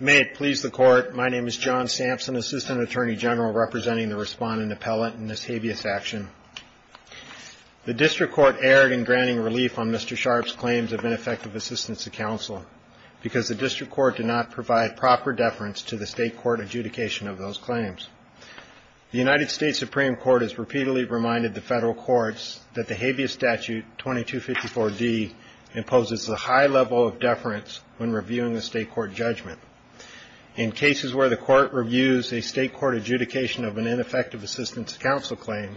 May it please the Court, my name is John Sampson, Assistant Attorney General representing the respondent appellate in this habeas action. The District Court erred in granting relief on Mr. Sharp's claims of ineffective assistance to counsel because the District Court did not provide proper deference to the State Court adjudication of those claims. The United States Supreme Court has repeatedly reminded the Federal Courts that the Habeas statutes when reviewing the State Court judgment. In cases where the Court reviews a State Court adjudication of an ineffective assistance to counsel claim,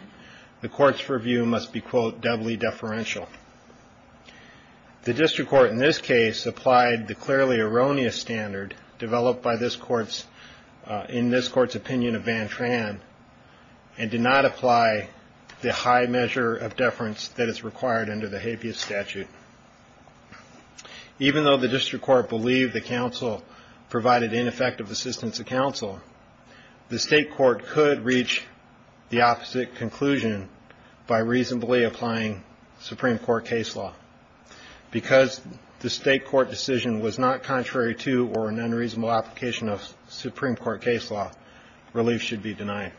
the Court's review must be quote doubly deferential. The District Court in this case applied the clearly erroneous standard developed by this Court's in this Court's opinion of Van Tran and did not apply the high measure of deference that is required under the Habeas statute. Even though the District Court believed the counsel provided ineffective assistance to counsel, the State Court could reach the opposite conclusion by reasonably applying Supreme Court case law. Because the State Court decision was not contrary to or an unreasonable application of Supreme Court case law, relief should be denied.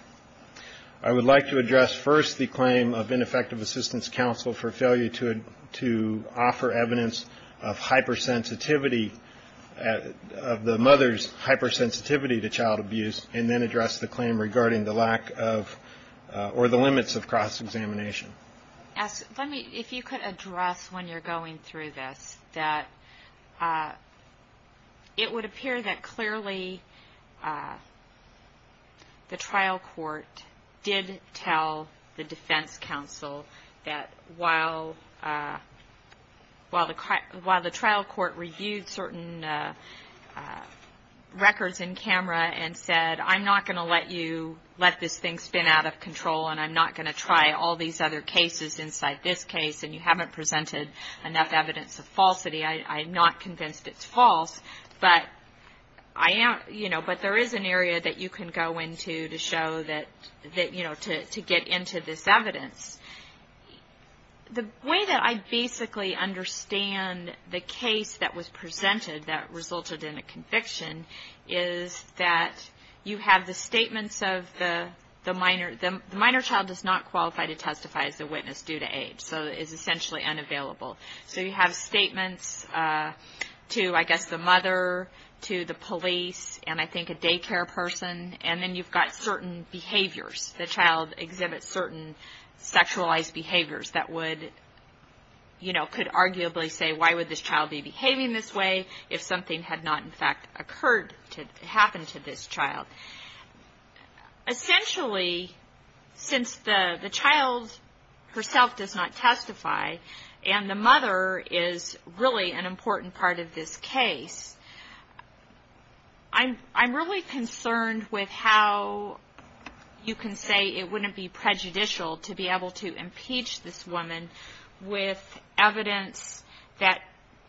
I would like to address first the claim of ineffective assistance counsel for failure to offer evidence of hypersensitivity of the mother's hypersensitivity to child abuse and then address the claim regarding the lack of or the limits of cross-examination. If you could address when you're going through this that it would appear that clearly the trial court did tell the defense counsel that while the trial court reviewed certain records in camera and said, I'm not going to let you let this thing spin out of control and I'm not going to try all these other cases inside this case and you haven't presented enough evidence of falsity, I'm not convinced it's to get into this evidence. The way that I basically understand the case that was presented that resulted in a conviction is that you have the statements of the minor. The minor child does not qualify to testify as a witness due to age, so is essentially unavailable. So you have statements to, I guess, the mother, to the police, and I think a daycare person. And then you've got certain behaviors. The child exhibits certain sexualized behaviors that would, you know, could arguably say why would this child be behaving this way if something had not, in fact, occurred to happen to this child. Essentially, since the child herself does not testify and the mother is really an important part of this case, I'm really concerned with how you can say it wouldn't be prejudicial to be able to impeach this woman with evidence that,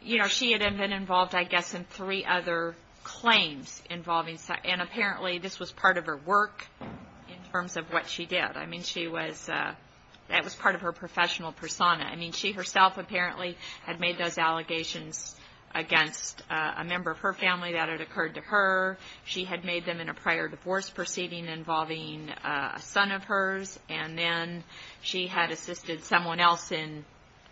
you know, she had been involved, I guess, in three other claims involving, and apparently this was part of her work in terms of what she did. I mean, she was, that was part of her professional persona. I mean, she herself apparently had made those allegations against a member of her family that had occurred to her. She had made them in a prior divorce proceeding involving a son of hers, and then she had assisted someone else in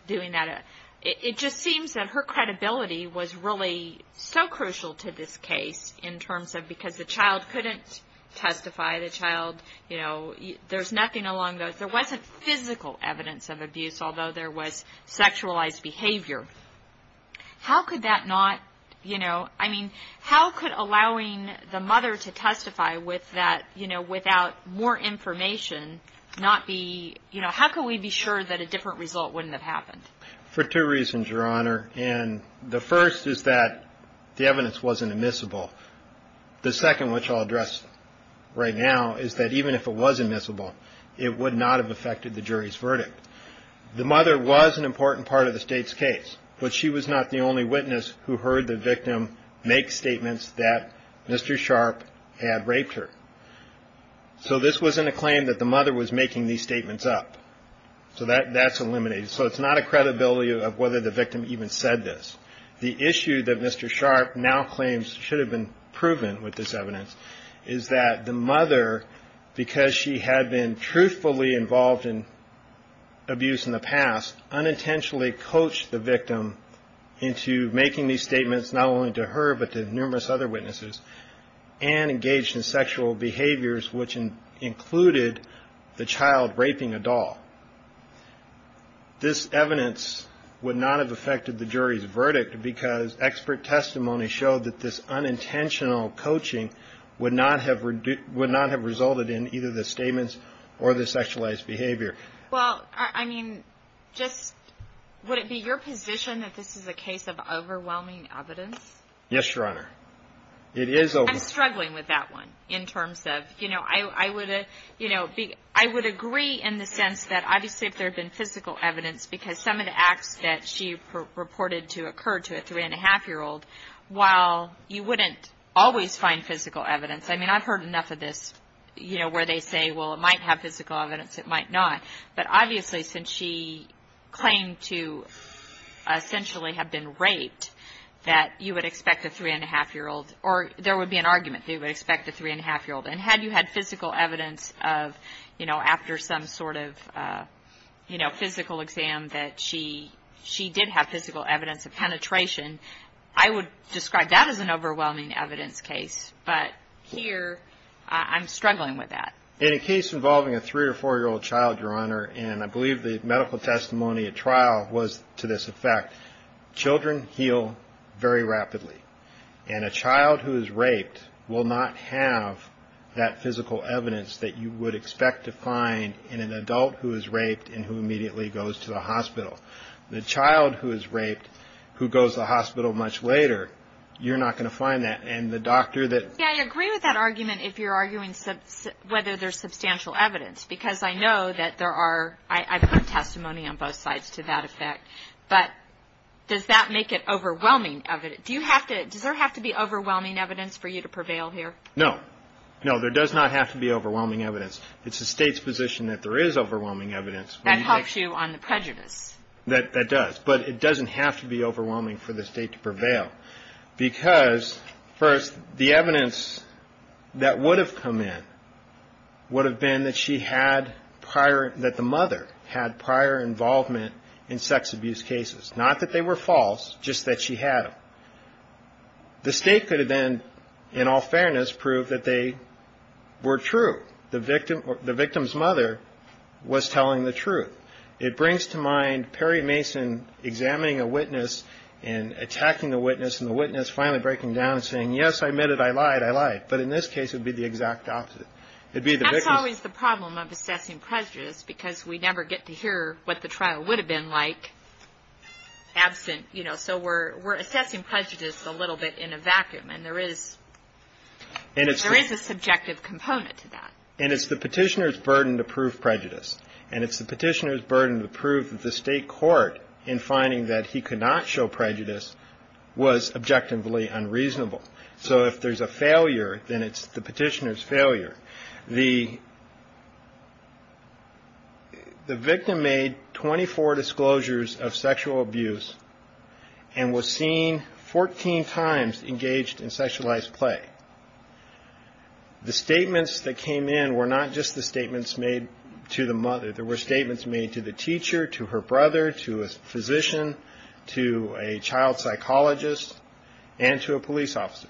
doing that. It just seems that her credibility was really so crucial to this case in terms of, because the child couldn't testify, the child, you know, there's nothing along those. There wasn't physical evidence of abuse, although there was sexualized behavior. How could that not, you know, I mean, how could allowing the mother to testify with that, you know, without more information not be, you know, how could we be sure that a different result wouldn't have happened? For two reasons, Your Honor, and the first is that the evidence wasn't admissible. The second, which I'll address right now, is that even if it was admissible, it would not have affected the jury's verdict. The mother was an important part of the state's case, but she was not the only witness who heard the victim make statements that Mr. Sharp had raped her. So this wasn't a claim that the mother was making these statements up. So that's eliminated. So it's not a credibility of whether the victim even said this. The issue that Mr. Sharp now claims should have been proven with this evidence is that the mother, because she had been truthfully involved in abuse in the past, unintentionally coached the victim into making these statements not only to her but to numerous other witnesses and engaged in sexual behaviors, which included the child raping a doll. This evidence would not have affected the jury's verdict because expert testimony showed that this unintentional coaching would not have resulted in either the statements or the sexualized behavior. Well, I mean, just would it be your position that this is a case of overwhelming evidence? Yes, Your Honor. I'm struggling with that one in terms of, you know, I would agree in the sense that obviously if there had been physical evidence, because some of the acts that she purported to occur to a three-and-a-half-year-old, while you wouldn't always find physical evidence. I mean, I've heard enough of this, you know, where they say, well, it might have physical evidence, it might not. But obviously since she claimed to essentially have been raped, that you would expect a three-and-a-half-year-old, or there would be an argument that you would expect a three-and-a-half-year-old. And had you had physical evidence of, you know, after some sort of, you know, physical exam that she did have physical evidence of penetration, I would describe that as an overwhelming evidence case. But here I'm struggling with that. In a case involving a three- or four-year-old child, Your Honor, and I believe the medical testimony at trial was to this effect, children heal very rapidly. And a child who is raped will not have that physical evidence that you would expect to find in an adult who is raped and who immediately goes to the hospital. The child who is raped who goes to the hospital much later, you're not going to find that. And the doctor that — Yeah, I agree with that argument if you're arguing whether there's substantial evidence, because I know that there are — I've heard testimony on both sides to that effect. But does that make it overwhelming evidence? Do you have to — does there have to be overwhelming evidence for you to prevail here? No. No, there does not have to be overwhelming evidence. It's the State's position that there is overwhelming evidence. That helps you on the prejudice. That does. But it doesn't have to be overwhelming for the State to prevail. Because, first, the evidence that would have come in would have been that she had prior — that the mother had prior involvement in sex abuse cases. Not that they were false, just that she had them. The State could have then, in all fairness, proved that they were true. The victim's mother was telling the truth. It brings to mind Perry Mason examining a witness and attacking the witness, and the witness finally breaking down and saying, yes, I admit it, I lied, I lied. But in this case, it would be the exact opposite. That's always the problem of assessing prejudice, because we never get to hear what the trial would have been like absent. So we're assessing prejudice a little bit in a vacuum. And there is a subjective component to that. And it's the petitioner's burden to prove prejudice. And it's the petitioner's burden to prove that the State court, in finding that he could not show prejudice, was objectively unreasonable. The victim made 24 disclosures of sexual abuse and was seen 14 times engaged in sexualized play. The statements that came in were not just the statements made to the mother. There were statements made to the teacher, to her brother, to a physician, to a child psychologist, and to a police officer.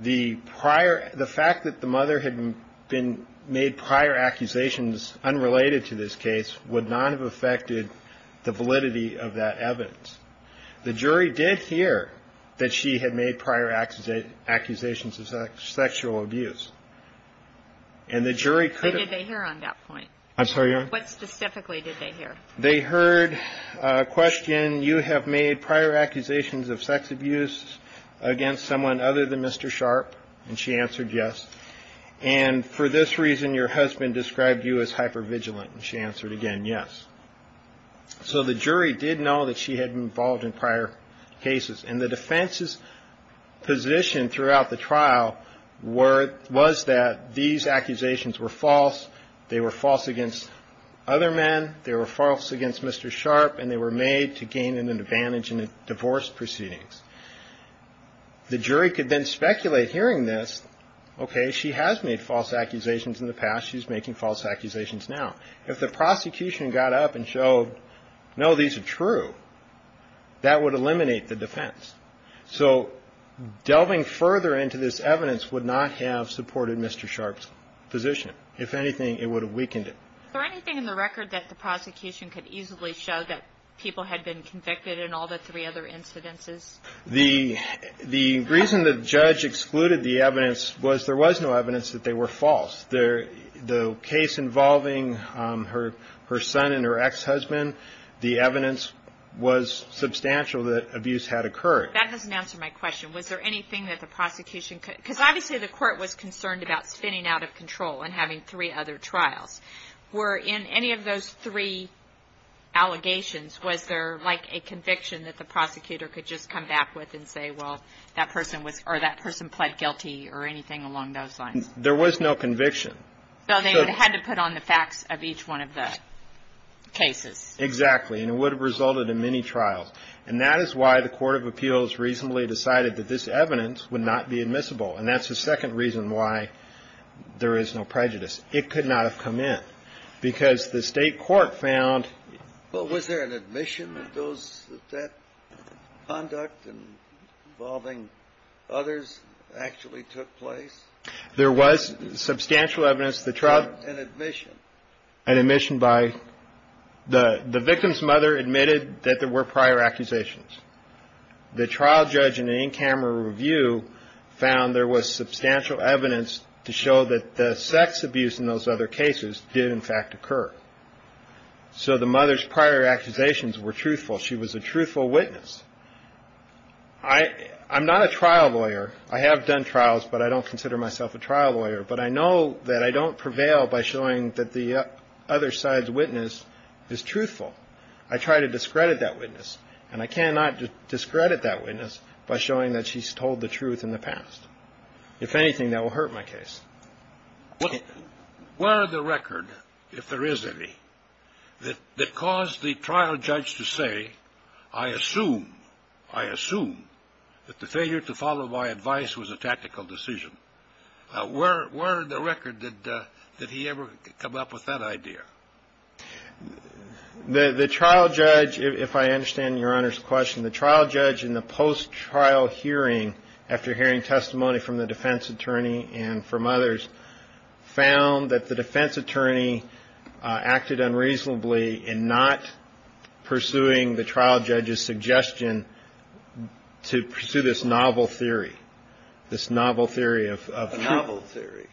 The prior – the fact that the mother had been – made prior accusations unrelated to this case would not have affected the validity of that evidence. The jury did hear that she had made prior accusations of sexual abuse. And the jury could have – What did they hear on that point? I'm sorry, Your Honor? What specifically did they hear? They heard a question, you have made prior accusations of sex abuse against someone other than Mr. Sharp. And she answered yes. And for this reason, your husband described you as hypervigilant. And she answered again yes. So the jury did know that she had been involved in prior cases. And the defense's position throughout the trial was that these accusations were false. They were false against other men. They were false against Mr. Sharp. And they were made to gain an advantage in the divorce proceedings. The jury could then speculate hearing this, okay, she has made false accusations in the past. She's making false accusations now. If the prosecution got up and showed, no, these are true, that would eliminate the defense. So delving further into this evidence would not have supported Mr. Sharp's position. If anything, it would have weakened it. Was there anything in the record that the prosecution could easily show that people had been convicted in all the three other incidences? The reason the judge excluded the evidence was there was no evidence that they were false. The case involving her son and her ex-husband, the evidence was substantial that abuse had occurred. That doesn't answer my question. Was there anything that the prosecution could, because obviously the court was concerned about spinning out of control and having three other trials. Were in any of those three allegations, was there like a conviction that the prosecutor could just come back with and say, well, that person was, or that person pled guilty or anything along those lines? There was no conviction. So they would have had to put on the facts of each one of the cases. Exactly. And it would have resulted in many trials. And that is why the court of appeals reasonably decided that this evidence would not be admissible. And that's the second reason why there is no prejudice. It could not have come in, because the state court found. Well, was there an admission that those, that that conduct involving others actually took place? There was substantial evidence. An admission? An admission by the victim's mother admitted that there were prior accusations. The trial judge in an in-camera review found there was substantial evidence to show that the sex abuse in those other cases did in fact occur. So the mother's prior accusations were truthful. She was a truthful witness. I'm not a trial lawyer. I have done trials, but I don't consider myself a trial lawyer. But I know that I don't prevail by showing that the other side's witness is truthful. I try to discredit that witness. And I cannot discredit that witness by showing that she's told the truth in the past. If anything, that will hurt my case. Were the record, if there is any, that caused the trial judge to say, I assume, I assume that the failure to follow my advice was a tactical decision. Where in the record did he ever come up with that idea? The trial judge, if I understand Your Honor's question, the trial judge in the post-trial hearing, after hearing testimony from the defense attorney and from others, found that the defense attorney acted unreasonably in not pursuing the trial judge's suggestion to pursue this novel theory, this novel theory of truth. A novel theory.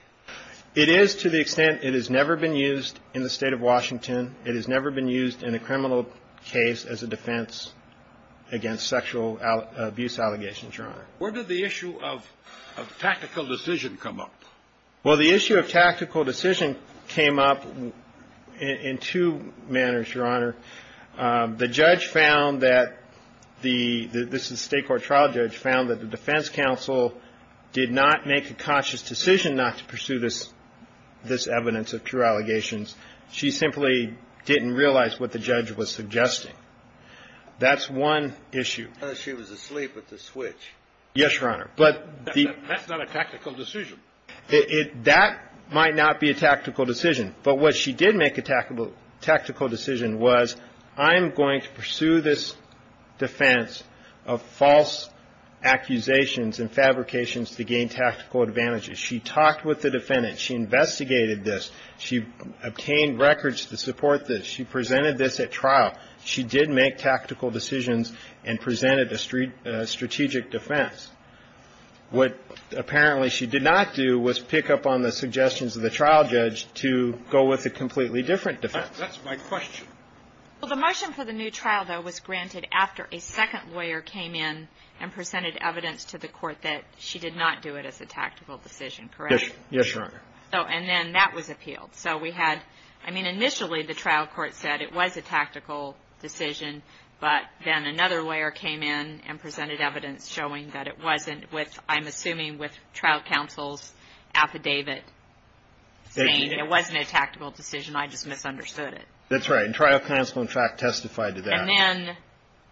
It is to the extent it has never been used in the State of Washington. It has never been used in a criminal case as a defense against sexual abuse allegations, Your Honor. Where did the issue of tactical decision come up? Well, the issue of tactical decision came up in two manners, Your Honor. The judge found that the – this is a State court trial judge – found that the defense counsel did not make a conscious decision not to pursue this evidence of true allegations. She simply didn't realize what the judge was suggesting. That's one issue. She was asleep at the switch. Yes, Your Honor. That's not a tactical decision. That might not be a tactical decision. But what she did make a tactical decision was, I'm going to pursue this defense of false accusations and fabrications to gain tactical advantages. She talked with the defendant. She investigated this. She obtained records to support this. She presented this at trial. She did make tactical decisions and presented a strategic defense. What apparently she did not do was pick up on the suggestions of the trial judge to go with a completely different defense. That's my question. Well, the motion for the new trial, though, was granted after a second lawyer came in and presented evidence to the court that she did not do it as a tactical decision, correct? Yes, Your Honor. And then that was appealed. So we had – I mean, initially the trial court said it was a tactical decision. But then another lawyer came in and presented evidence showing that it wasn't with, I'm assuming, with trial counsel's affidavit saying it wasn't a tactical decision. I just misunderstood it. That's right. And trial counsel, in fact, testified to that. And then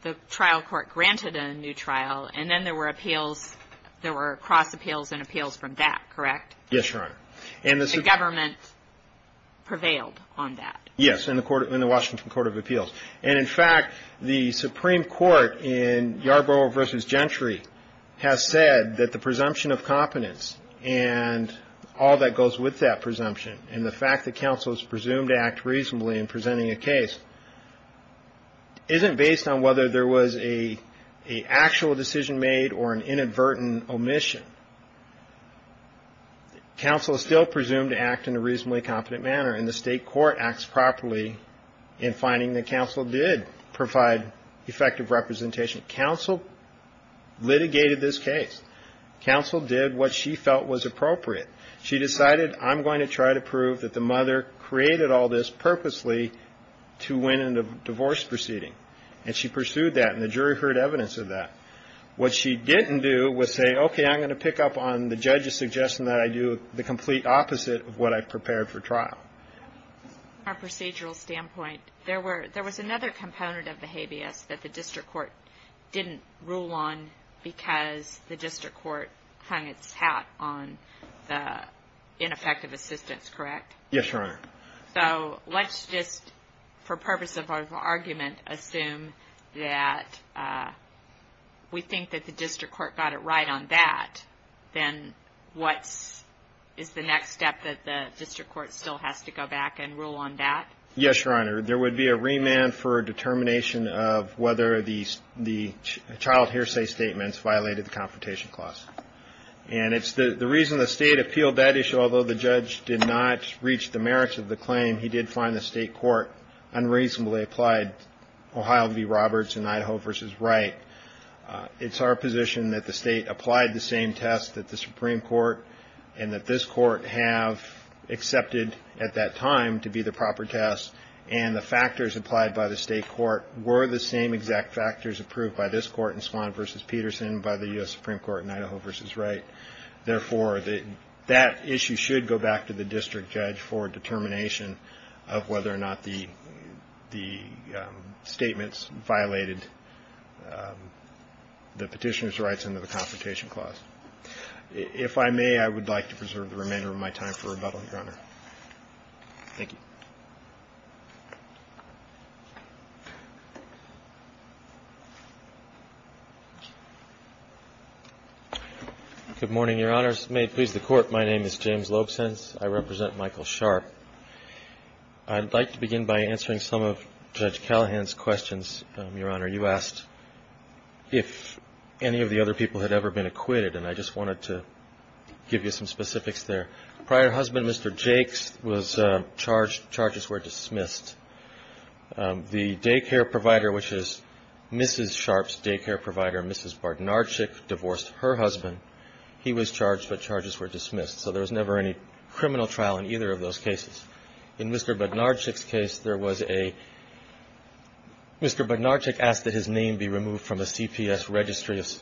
the trial court granted a new trial. And then there were appeals – there were cross appeals and appeals from that, correct? Yes, Your Honor. And the government prevailed on that. Yes, in the Washington Court of Appeals. And, in fact, the Supreme Court in Yarborough v. Gentry has said that the presumption of competence and all that goes with that presumption and the fact that counsel is presumed to act reasonably in presenting a case isn't based on whether there was an actual decision made or an inadvertent omission. Counsel is still presumed to act in a reasonably competent manner. And the state court acts properly in finding that counsel did provide effective representation. Counsel litigated this case. Counsel did what she felt was appropriate. She decided, I'm going to try to prove that the mother created all this purposely to win in a divorce proceeding. And she pursued that. And the jury heard evidence of that. What she didn't do was say, okay, I'm going to pick up on the judge's suggestion that I do the complete opposite of what I prepared for trial. From a procedural standpoint, there was another component of the habeas that the district court didn't rule on because the district court clung its hat on the ineffective assistance, correct? Yes, Your Honor. So let's just, for purpose of our argument, assume that we think that the district court got it right on that. Then what is the next step that the district court still has to go back and rule on that? Yes, Your Honor. There would be a remand for determination of whether the child hearsay statements violated the confrontation clause. And it's the reason the state appealed that issue. Although the judge did not reach the merits of the claim, he did find the state court unreasonably applied. Ohio v. Roberts and Idaho v. Wright. It's our position that the state applied the same test that the Supreme Court and that this court have accepted at that time to be the proper test. And the factors applied by the state court were the same exact factors approved by this court in Swan v. Peterson and by the U.S. Supreme Court in Idaho v. Wright. Therefore, that issue should go back to the district judge for determination of whether or not the statements violated the petitioner's rights under the confrontation clause. If I may, I would like to preserve the remainder of my time for rebuttal, Your Honor. Thank you. Good morning, Your Honors. May it please the Court, my name is James Lobsens. I represent Michael Sharp. I'd like to begin by answering some of Judge Callahan's questions, Your Honor. You asked if any of the other people had ever been acquitted, and I just wanted to give you some specifics there. Prior husband, Mr. Jakes, was charged. Charges were dismissed. The daycare provider, which is Mrs. Sharp's daycare provider, Mrs. Barnardchik, divorced her husband. He was charged, but charges were dismissed. So there was never any criminal trial in either of those cases. In Mr. Barnardchik's case, there was a Mr. Barnardchik asked that his name be removed from the CPS registry. Yes.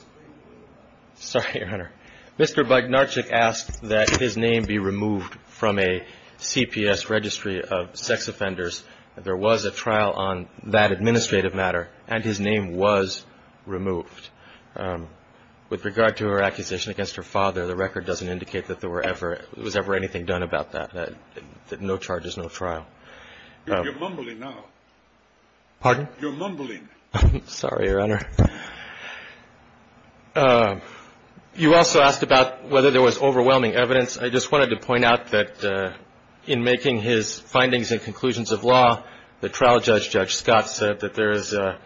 Sorry, Your Honor. Mr. Barnardchik asked that his name be removed from a CPS registry of sex offenders. There was a trial on that administrative matter, and his name was removed. With regard to her accusation against her father, the record doesn't indicate that there was ever anything done about that. No charges, no trial. You're mumbling now. Pardon? You're mumbling. Sorry, Your Honor. You also asked about whether there was overwhelming evidence. I just wanted to point out that in making his findings and conclusions of law, the trial judge, Judge Scott, said that there is a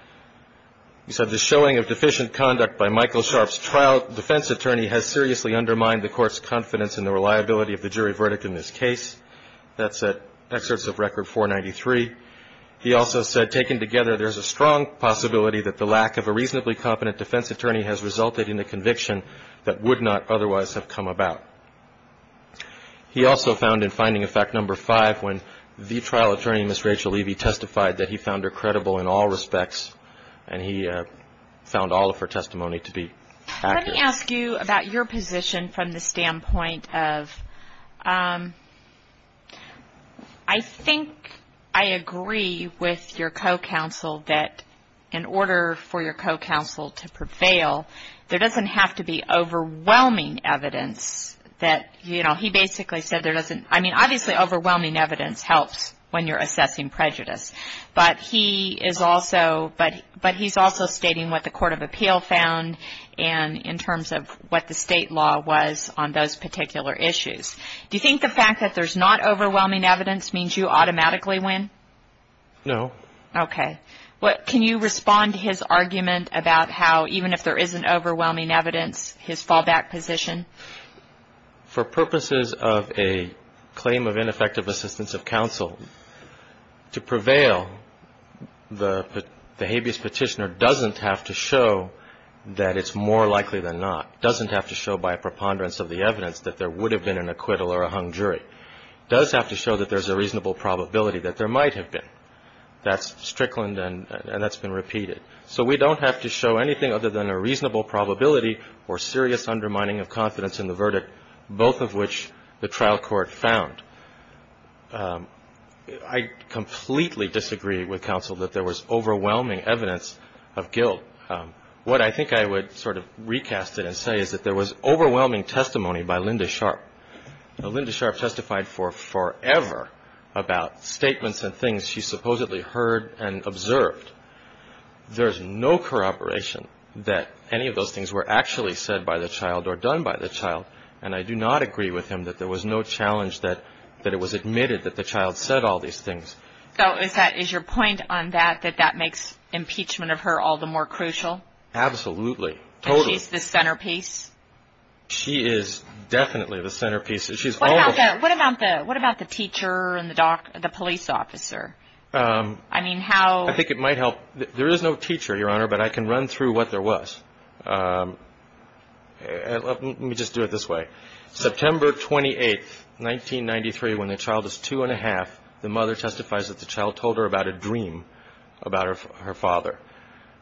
showing of deficient conduct by Michael Sharp's trial. The defense attorney has seriously undermined the court's confidence in the reliability of the jury verdict in this case. That's at excerpts of Record 493. He also said, taken together, there's a strong possibility that the lack of a reasonably competent defense attorney has resulted in a conviction that would not otherwise have come about. He also found in finding of fact number five when the trial attorney, Ms. Rachel Levy, testified that he found her credible in all respects, and he found all of her testimony to be accurate. Let me ask you about your position from the standpoint of, I think I agree with your co-counsel that in order for your co-counsel to prevail, there doesn't have to be overwhelming evidence that, you know, he basically said there doesn't. I mean, obviously overwhelming evidence helps when you're assessing prejudice, but he is also stating what the court of appeal found in terms of what the state law was on those particular issues. Do you think the fact that there's not overwhelming evidence means you automatically win? No. Okay. Can you respond to his argument about how even if there isn't overwhelming evidence, his fallback position? For purposes of a claim of ineffective assistance of counsel, to prevail, the habeas petitioner doesn't have to show that it's more likely than not, doesn't have to show by a preponderance of the evidence that there would have been an acquittal or a hung jury, does have to show that there's a reasonable probability that there might have been. That's Strickland, and that's been repeated. So we don't have to show anything other than a reasonable probability or serious undermining of confidence in the verdict, both of which the trial court found. I completely disagree with counsel that there was overwhelming evidence of guilt. What I think I would sort of recast it and say is that there was overwhelming testimony by Linda Sharp. Linda Sharp testified for forever about statements and things she supposedly heard and observed. There's no corroboration that any of those things were actually said by the child or done by the child, and I do not agree with him that there was no challenge that it was admitted that the child said all these things. So is your point on that that that makes impeachment of her all the more crucial? Absolutely. And she's the centerpiece? She is definitely the centerpiece. What about the teacher and the police officer? I think it might help. There is no teacher, Your Honor, but I can run through what there was. Let me just do it this way. September 28, 1993, when the child is two and a half, the mother testifies that the child told her about a dream about her father.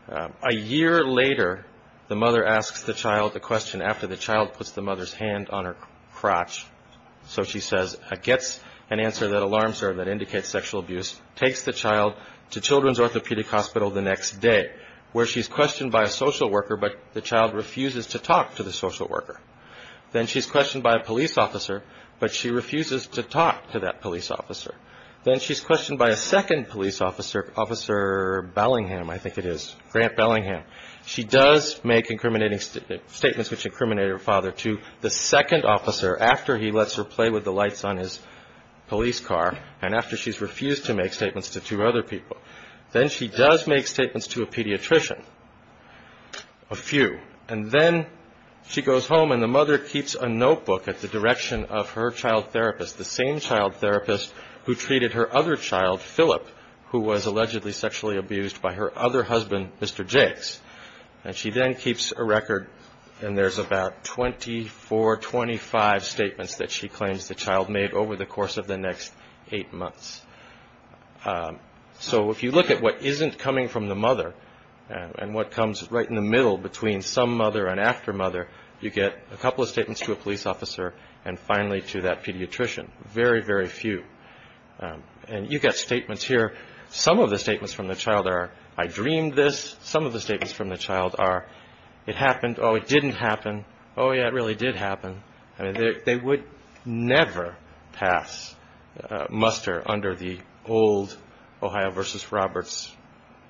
A year later, the mother asks the child the question after the child puts the mother's hand on her crotch. So she says, gets an answer that alarms her that indicates sexual abuse, takes the child to Children's Orthopedic Hospital the next day, where she's questioned by a social worker, but the child refuses to talk to the social worker. Then she's questioned by a police officer, but she refuses to talk to that police officer. Then she's questioned by a second police officer, Officer Bellingham. I think it is Grant Bellingham. She does make incriminating statements which incriminate her father to the second officer after he lets her play with the lights on his police car. And after she's refused to make statements to two other people, then she does make statements to a pediatrician, a few. And then she goes home, and the mother keeps a notebook at the direction of her child therapist, the same child therapist who treated her other child, Phillip, who was allegedly sexually abused by her other husband, Mr. Jakes. And she then keeps a record, and there's about 24, 25 statements that she claims the child made over the course of the next eight months. So if you look at what isn't coming from the mother and what comes right in the middle between some mother and after mother, you get a couple of statements to a police officer and finally to that pediatrician, very, very few. And you get statements here. Some of the statements from the child are, I dreamed this. Some of the statements from the child are, it happened. Oh, it didn't happen. Oh, yeah, it really did happen. I mean, they would never pass muster under the old Ohio v. Roberts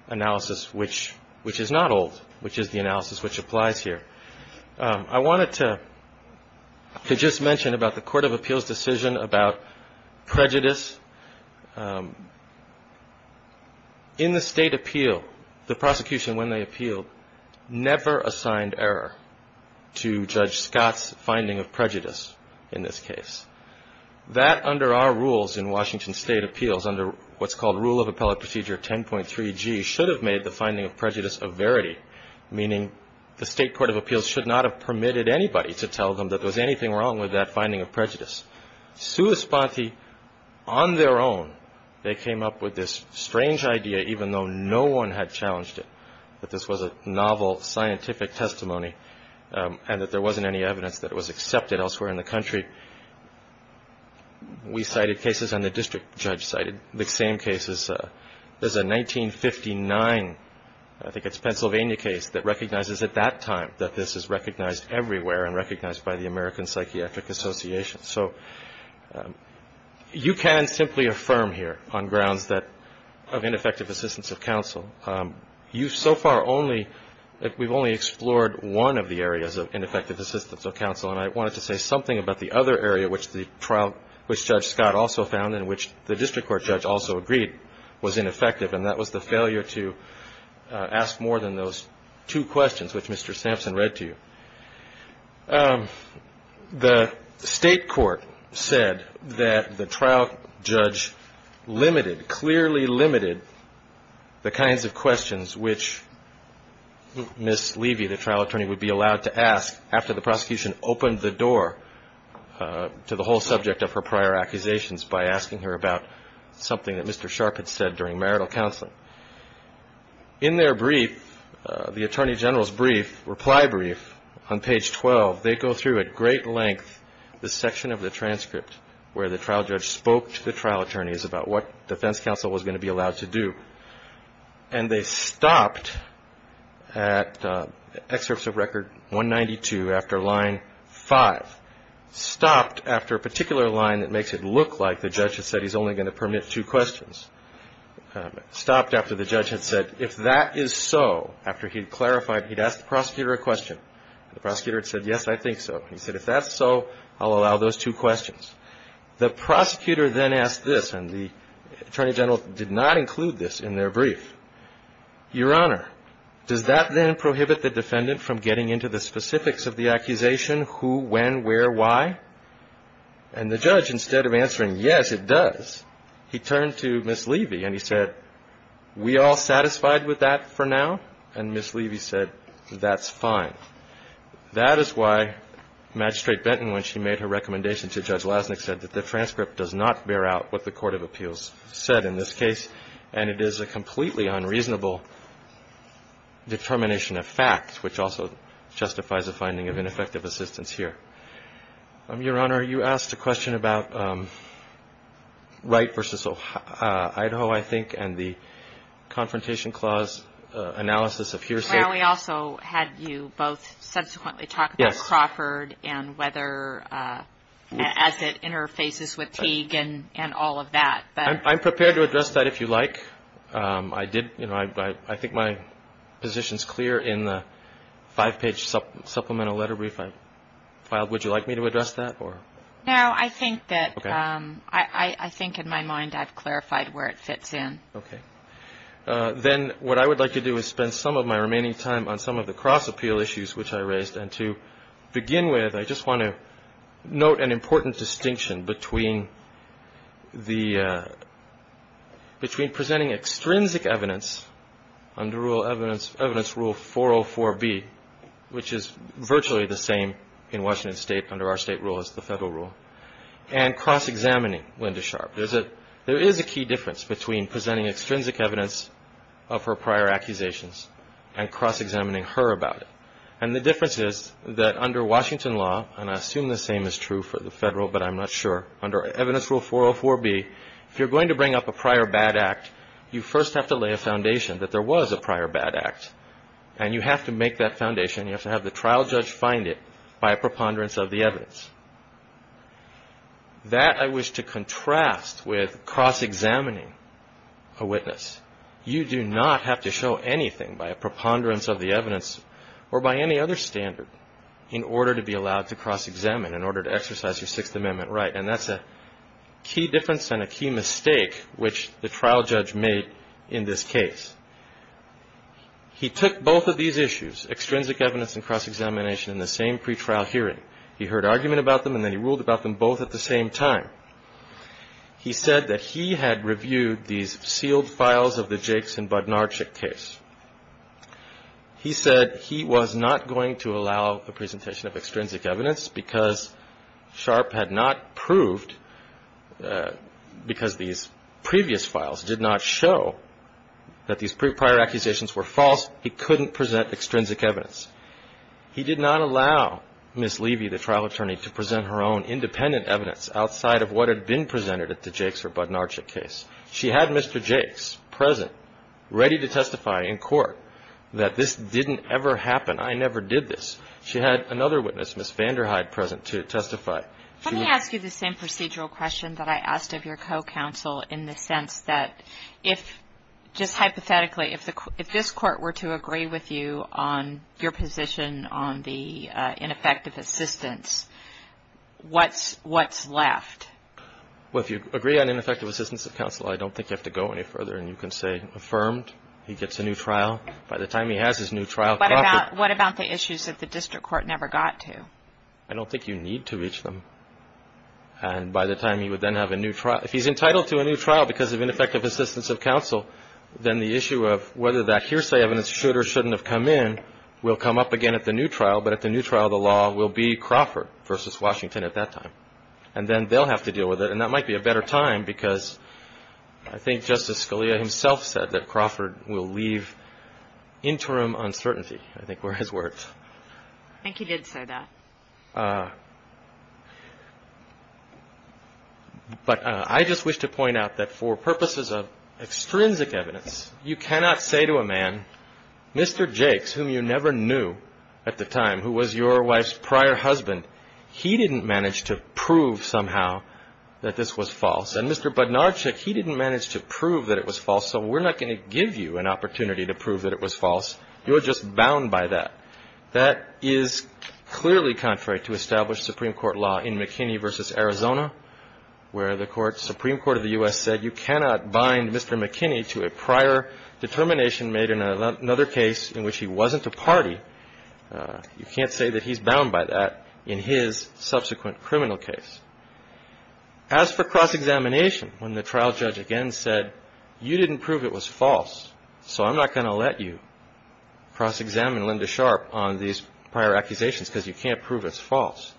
analysis, which is not old, which is the analysis which applies here. I wanted to just mention about the court of appeals decision about prejudice. In the state appeal, the prosecution, when they appealed, never assigned error to Judge Scott's finding of prejudice in this case. That, under our rules in Washington state appeals, under what's called rule of appellate procedure 10.3G, should have made the finding of prejudice a verity, meaning the state court of appeals should not have permitted anybody to tell them that there was anything wrong with that finding of prejudice. Suospati, on their own, they came up with this strange idea, even though no one had challenged it, that this was a novel scientific testimony and that there wasn't any evidence that it was accepted elsewhere in the country. We cited cases and the district judge cited the same cases. There's a 1959, I think it's Pennsylvania case, that recognizes at that time that this is recognized everywhere and recognized by the American Psychiatric Association. So you can simply affirm here on grounds of ineffective assistance of counsel. You've so far only – we've only explored one of the areas of ineffective assistance of counsel, and I wanted to say something about the other area which Judge Scott also found and which the district court judge also agreed was ineffective, and that was the failure to ask more than those two questions which Mr. Sampson read to you. The state court said that the trial judge limited, clearly limited the kinds of questions which Ms. Levy, the trial attorney, would be allowed to ask after the prosecution opened the door to the whole subject of her prior accusations by asking her about something that Mr. Sharp had said during marital counseling. In their brief, the attorney general's brief, reply brief on page 12, they go through at great length the section of the transcript where the trial judge spoke to the trial attorneys about what defense counsel was going to be allowed to do, and they stopped at excerpts of record 192 after line 5, stopped after a particular line that makes it look like the judge had said he's only going to permit two questions, stopped after the judge had said, if that is so, after he clarified, he'd ask the prosecutor a question. The prosecutor had said, yes, I think so. He said, if that's so, I'll allow those two questions. The prosecutor then asked this, and the attorney general did not include this in their brief, Your Honor, does that then prohibit the defendant from getting into the specifics of the accusation, who, when, where, why? And the judge, instead of answering, yes, it does, he turned to Ms. Levy and he said, we all satisfied with that for now? And Ms. Levy said, that's fine. That is why Magistrate Benton, when she made her recommendation to Judge Lasnik, said that the transcript does not bear out what the court of appeals said in this case, and it is a completely unreasonable determination of fact, which also justifies a finding of ineffective assistance here. Your Honor, you asked a question about Wright v. Idaho, I think, and the Confrontation Clause analysis of hearsay. Well, we also had you both subsequently talk about Crawford and whether, as it interfaces with Teague and all of that. I'm prepared to address that if you like. I think my position is clear in the five-page supplemental letter brief I filed. Would you like me to address that? No, I think in my mind I've clarified where it fits in. Okay. Then what I would like to do is spend some of my remaining time on some of the cross-appeal issues which I raised, and to begin with, I just want to note an important distinction between presenting extrinsic evidence under evidence rule 404B, which is virtually the same in Washington State under our state rule as the federal rule, and cross-examining Linda Sharp. There is a key difference between presenting extrinsic evidence of her prior accusations and cross-examining her about it, and the difference is that under Washington law, and I assume the same is true for the federal, but I'm not sure, under evidence rule 404B, if you're going to bring up a prior bad act, you first have to lay a foundation that there was a prior bad act, and you have to make that foundation. You have to have the trial judge find it by a preponderance of the evidence. That I wish to contrast with cross-examining a witness. You do not have to show anything by a preponderance of the evidence or by any other standard in order to be allowed to cross-examine, in order to exercise your Sixth Amendment right, and that's a key difference and a key mistake which the trial judge made in this case. He took both of these issues, extrinsic evidence and cross-examination, in the same pretrial hearing. He heard argument about them, and then he ruled about them both at the same time. He said that he had reviewed these sealed files of the Jakes and Budnarchik case. He said he was not going to allow the presentation of extrinsic evidence because Sharp had not proved, because these previous files did not show that these prior accusations were false, he couldn't present extrinsic evidence. He did not allow Ms. Levy, the trial attorney, to present her own independent evidence outside of what had been presented at the Jakes or Budnarchik case. She had Mr. Jakes present, ready to testify in court that this didn't ever happen. I never did this. She had another witness, Ms. Vanderhyde, present to testify. Let me ask you the same procedural question that I asked of your co-counsel in the sense that if, just hypothetically, if this Court were to agree with you on your position on the ineffective assistance, what's left? Well, if you agree on ineffective assistance of counsel, I don't think you have to go any further. And you can say, affirmed, he gets a new trial. By the time he has his new trial, corrupted. What about the issues that the district court never got to? I don't think you need to reach them. And by the time he would then have a new trial, if he's entitled to a new trial because of ineffective assistance of counsel, then the issue of whether that hearsay evidence should or shouldn't have come in will come up again at the new trial. But at the new trial, the law will be Crawford versus Washington at that time. And then they'll have to deal with it. And that might be a better time because I think Justice Scalia himself said that Crawford will leave interim uncertainty, I think were his words. I think he did say that. But I just wish to point out that for purposes of extrinsic evidence, you cannot say to a man, Mr. Jakes, whom you never knew at the time, who was your wife's prior husband, he didn't manage to prove somehow that this was false. And Mr. Budnarchik, he didn't manage to prove that it was false. So we're not going to give you an opportunity to prove that it was false. You're just bound by that. That is clearly contrary to established Supreme Court law in McKinney versus Arizona, where the Supreme Court of the U.S. said you cannot bind Mr. McKinney to a prior determination made in another case in which he wasn't a party. You can't say that he's bound by that in his subsequent criminal case. As for cross-examination, when the trial judge again said you didn't prove it was false, so I'm not going to let you cross-examine Linda Sharp on these prior accusations because you can't prove it's false.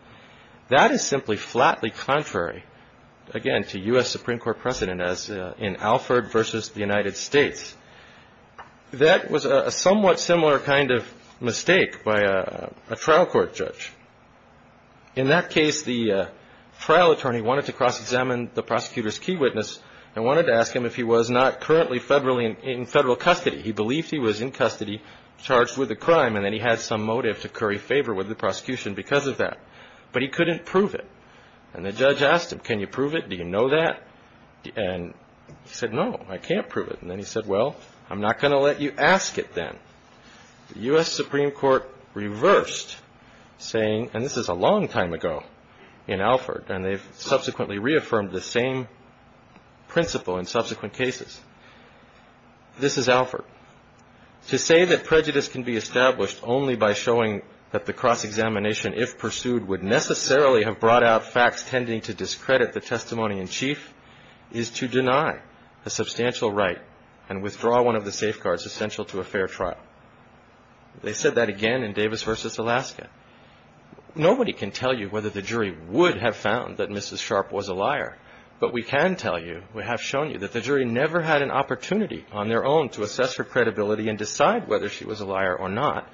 That is simply flatly contrary, again, to U.S. Supreme Court precedent as in Alford versus the United States. That was a somewhat similar kind of mistake by a trial court judge. In that case, the trial attorney wanted to cross-examine the prosecutor's key witness and wanted to ask him if he was not currently in federal custody. He believed he was in custody charged with a crime, and then he had some motive to curry favor with the prosecution because of that. But he couldn't prove it. And the judge asked him, can you prove it? Do you know that? And he said, no, I can't prove it. And then he said, well, I'm not going to let you ask it then. The U.S. Supreme Court reversed, saying, and this is a long time ago in Alford, and they've subsequently reaffirmed the same principle in subsequent cases. This is Alford. To say that prejudice can be established only by showing that the cross-examination, if pursued, would necessarily have brought out facts tending to discredit the testimony in chief is to deny a substantial right and withdraw one of the safeguards essential to a fair trial. They said that again in Davis versus Alaska. Nobody can tell you whether the jury would have found that Mrs. Sharp was a liar, but we can tell you, we have shown you, that the jury never had an opportunity on their own to assess her credibility and decide whether she was a liar or not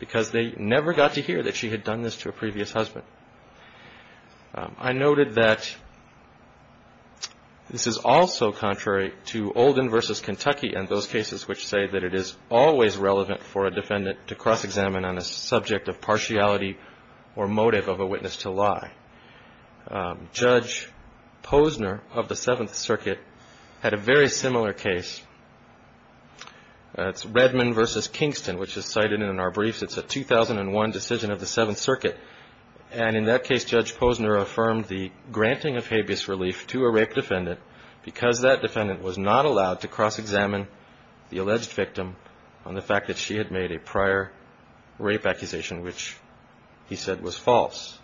because they never got to hear that she had done this to a previous husband. I noted that this is also contrary to Olden versus Kentucky and those cases which say that it is always relevant for a defendant to cross-examine on a subject of partiality or motive of a witness to lie. Judge Posner of the Seventh Circuit had a very similar case. It's Redmond versus Kingston, which is cited in our briefs. It's a 2001 decision of the Seventh Circuit, and in that case Judge Posner affirmed the granting of habeas relief to a rape defendant because that defendant was not allowed to cross-examine the alleged victim on the fact that she had made a prior rape accusation, which he said was false.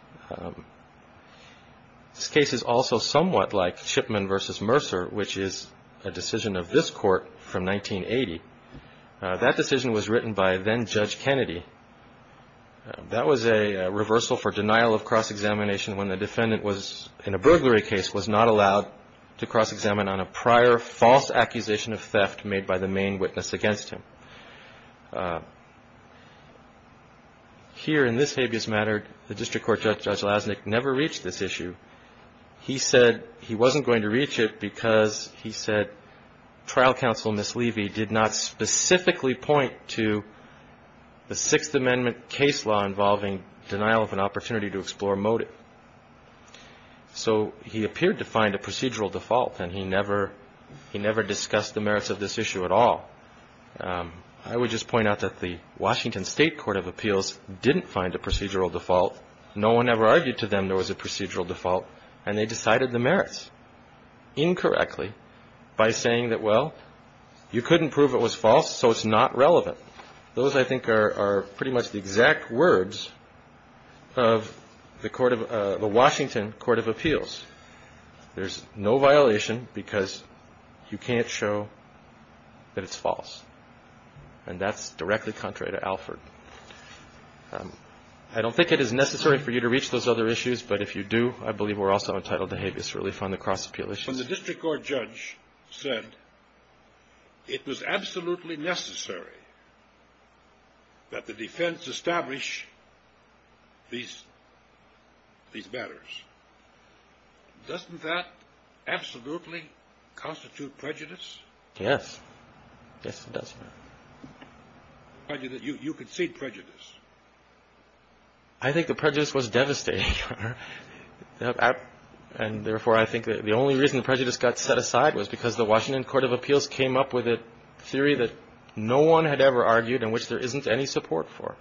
This case is also somewhat like Shipman versus Mercer, which is a decision of this court from 1980. That decision was written by then Judge Kennedy. That was a reversal for denial of cross-examination when the defendant was, in a burglary case, was not allowed to cross-examine on a prior false accusation of theft made by the main witness against him. Here in this habeas matter, the District Court Judge Lasnik never reached this issue. He said he wasn't going to reach it because, he said, he did not specifically point to the Sixth Amendment case law involving denial of an opportunity to explore motive. So he appeared to find a procedural default, and he never discussed the merits of this issue at all. I would just point out that the Washington State Court of Appeals didn't find a procedural default. No one ever argued to them there was a procedural default, and they decided the merits, incorrectly, by saying that, well, you couldn't prove it was false, so it's not relevant. Those, I think, are pretty much the exact words of the Washington Court of Appeals. There's no violation because you can't show that it's false, and that's directly contrary to Alford. I don't think it is necessary for you to reach those other issues, but if you do, I believe we're also entitled to habeas relief on the cross-appeal issue. When the District Court Judge said it was absolutely necessary that the defense establish these matters, doesn't that absolutely constitute prejudice? Yes. Yes, it does. You concede prejudice. I think the prejudice was devastating, and therefore I think the only reason the prejudice got set aside was because the Washington Court of Appeals came up with a theory that no one had ever argued and which there isn't any support for.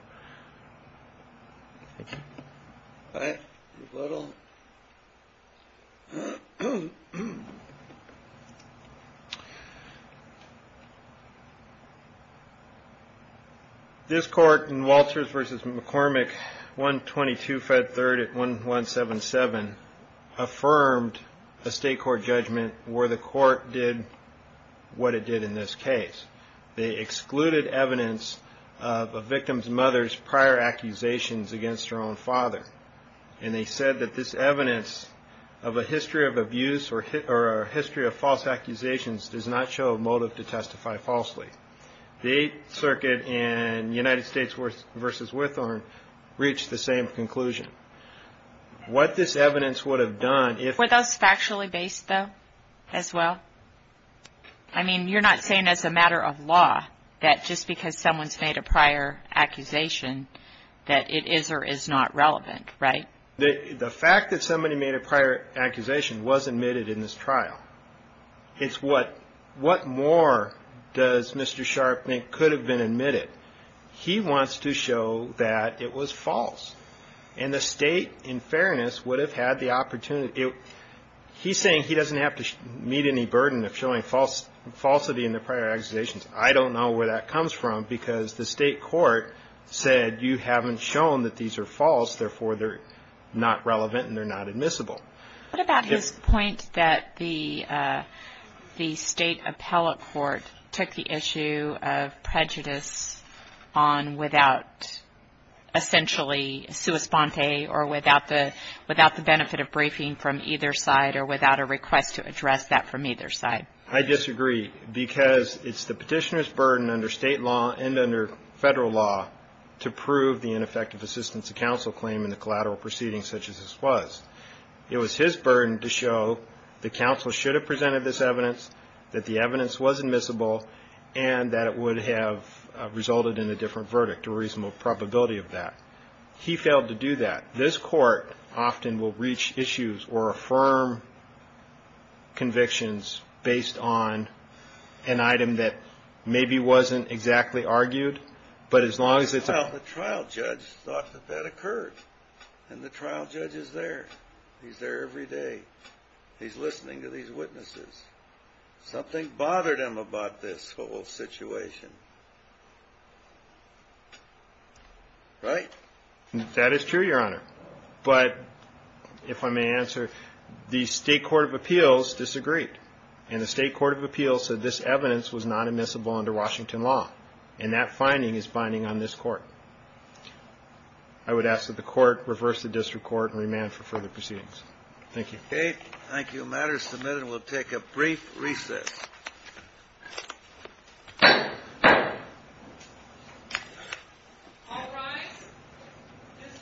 This court in Walters v. McCormick, 122 Fed 3rd at 1177, affirmed a state court judgment where the court did what it did in this case. They excluded evidence of a victim's mother's prior accusations against her own father, and they said that this evidence of a history of abuse or a history of false accusations does not show a motive to testify falsely. The Eighth Circuit in United States v. Withorn reached the same conclusion. What this evidence would have done if... Were those factually based, though, as well? I mean, you're not saying as a matter of law that just because someone's made a prior accusation that it is or is not relevant, right? The fact that somebody made a prior accusation was admitted in this trial. It's what more does Mr. Sharp think could have been admitted. He wants to show that it was false, and the State, in fairness, would have had the opportunity. He's saying he doesn't have to meet any burden of showing falsity in the prior accusations. I don't know where that comes from because the state court said, you haven't shown that these are false, therefore they're not relevant and they're not admissible. What about his point that the state appellate court took the issue of prejudice on without, essentially, sua sponte or without the benefit of briefing from either side or without a request to address that from either side? I disagree because it's the petitioner's burden under state law and under federal law to prove the ineffective assistance of counsel claim in a collateral proceeding such as this was. It was his burden to show the counsel should have presented this evidence, that the evidence was admissible, and that it would have resulted in a different verdict, a reasonable probability of that. He failed to do that. This court often will reach issues or affirm convictions based on an item that maybe wasn't exactly argued, but as long as it's a- Well, the trial judge thought that that occurred, and the trial judge is there. He's there every day. He's listening to these witnesses. Something bothered him about this whole situation, right? That is true, Your Honor. But if I may answer, the state court of appeals disagreed, and the state court of appeals said this evidence was not admissible under Washington law, and that finding is binding on this court. I would ask that the court reverse the district court and remand for further proceedings. Thank you. Okay. Thank you. The matter is submitted. We'll take a brief recess. All rise. This court is going to recess.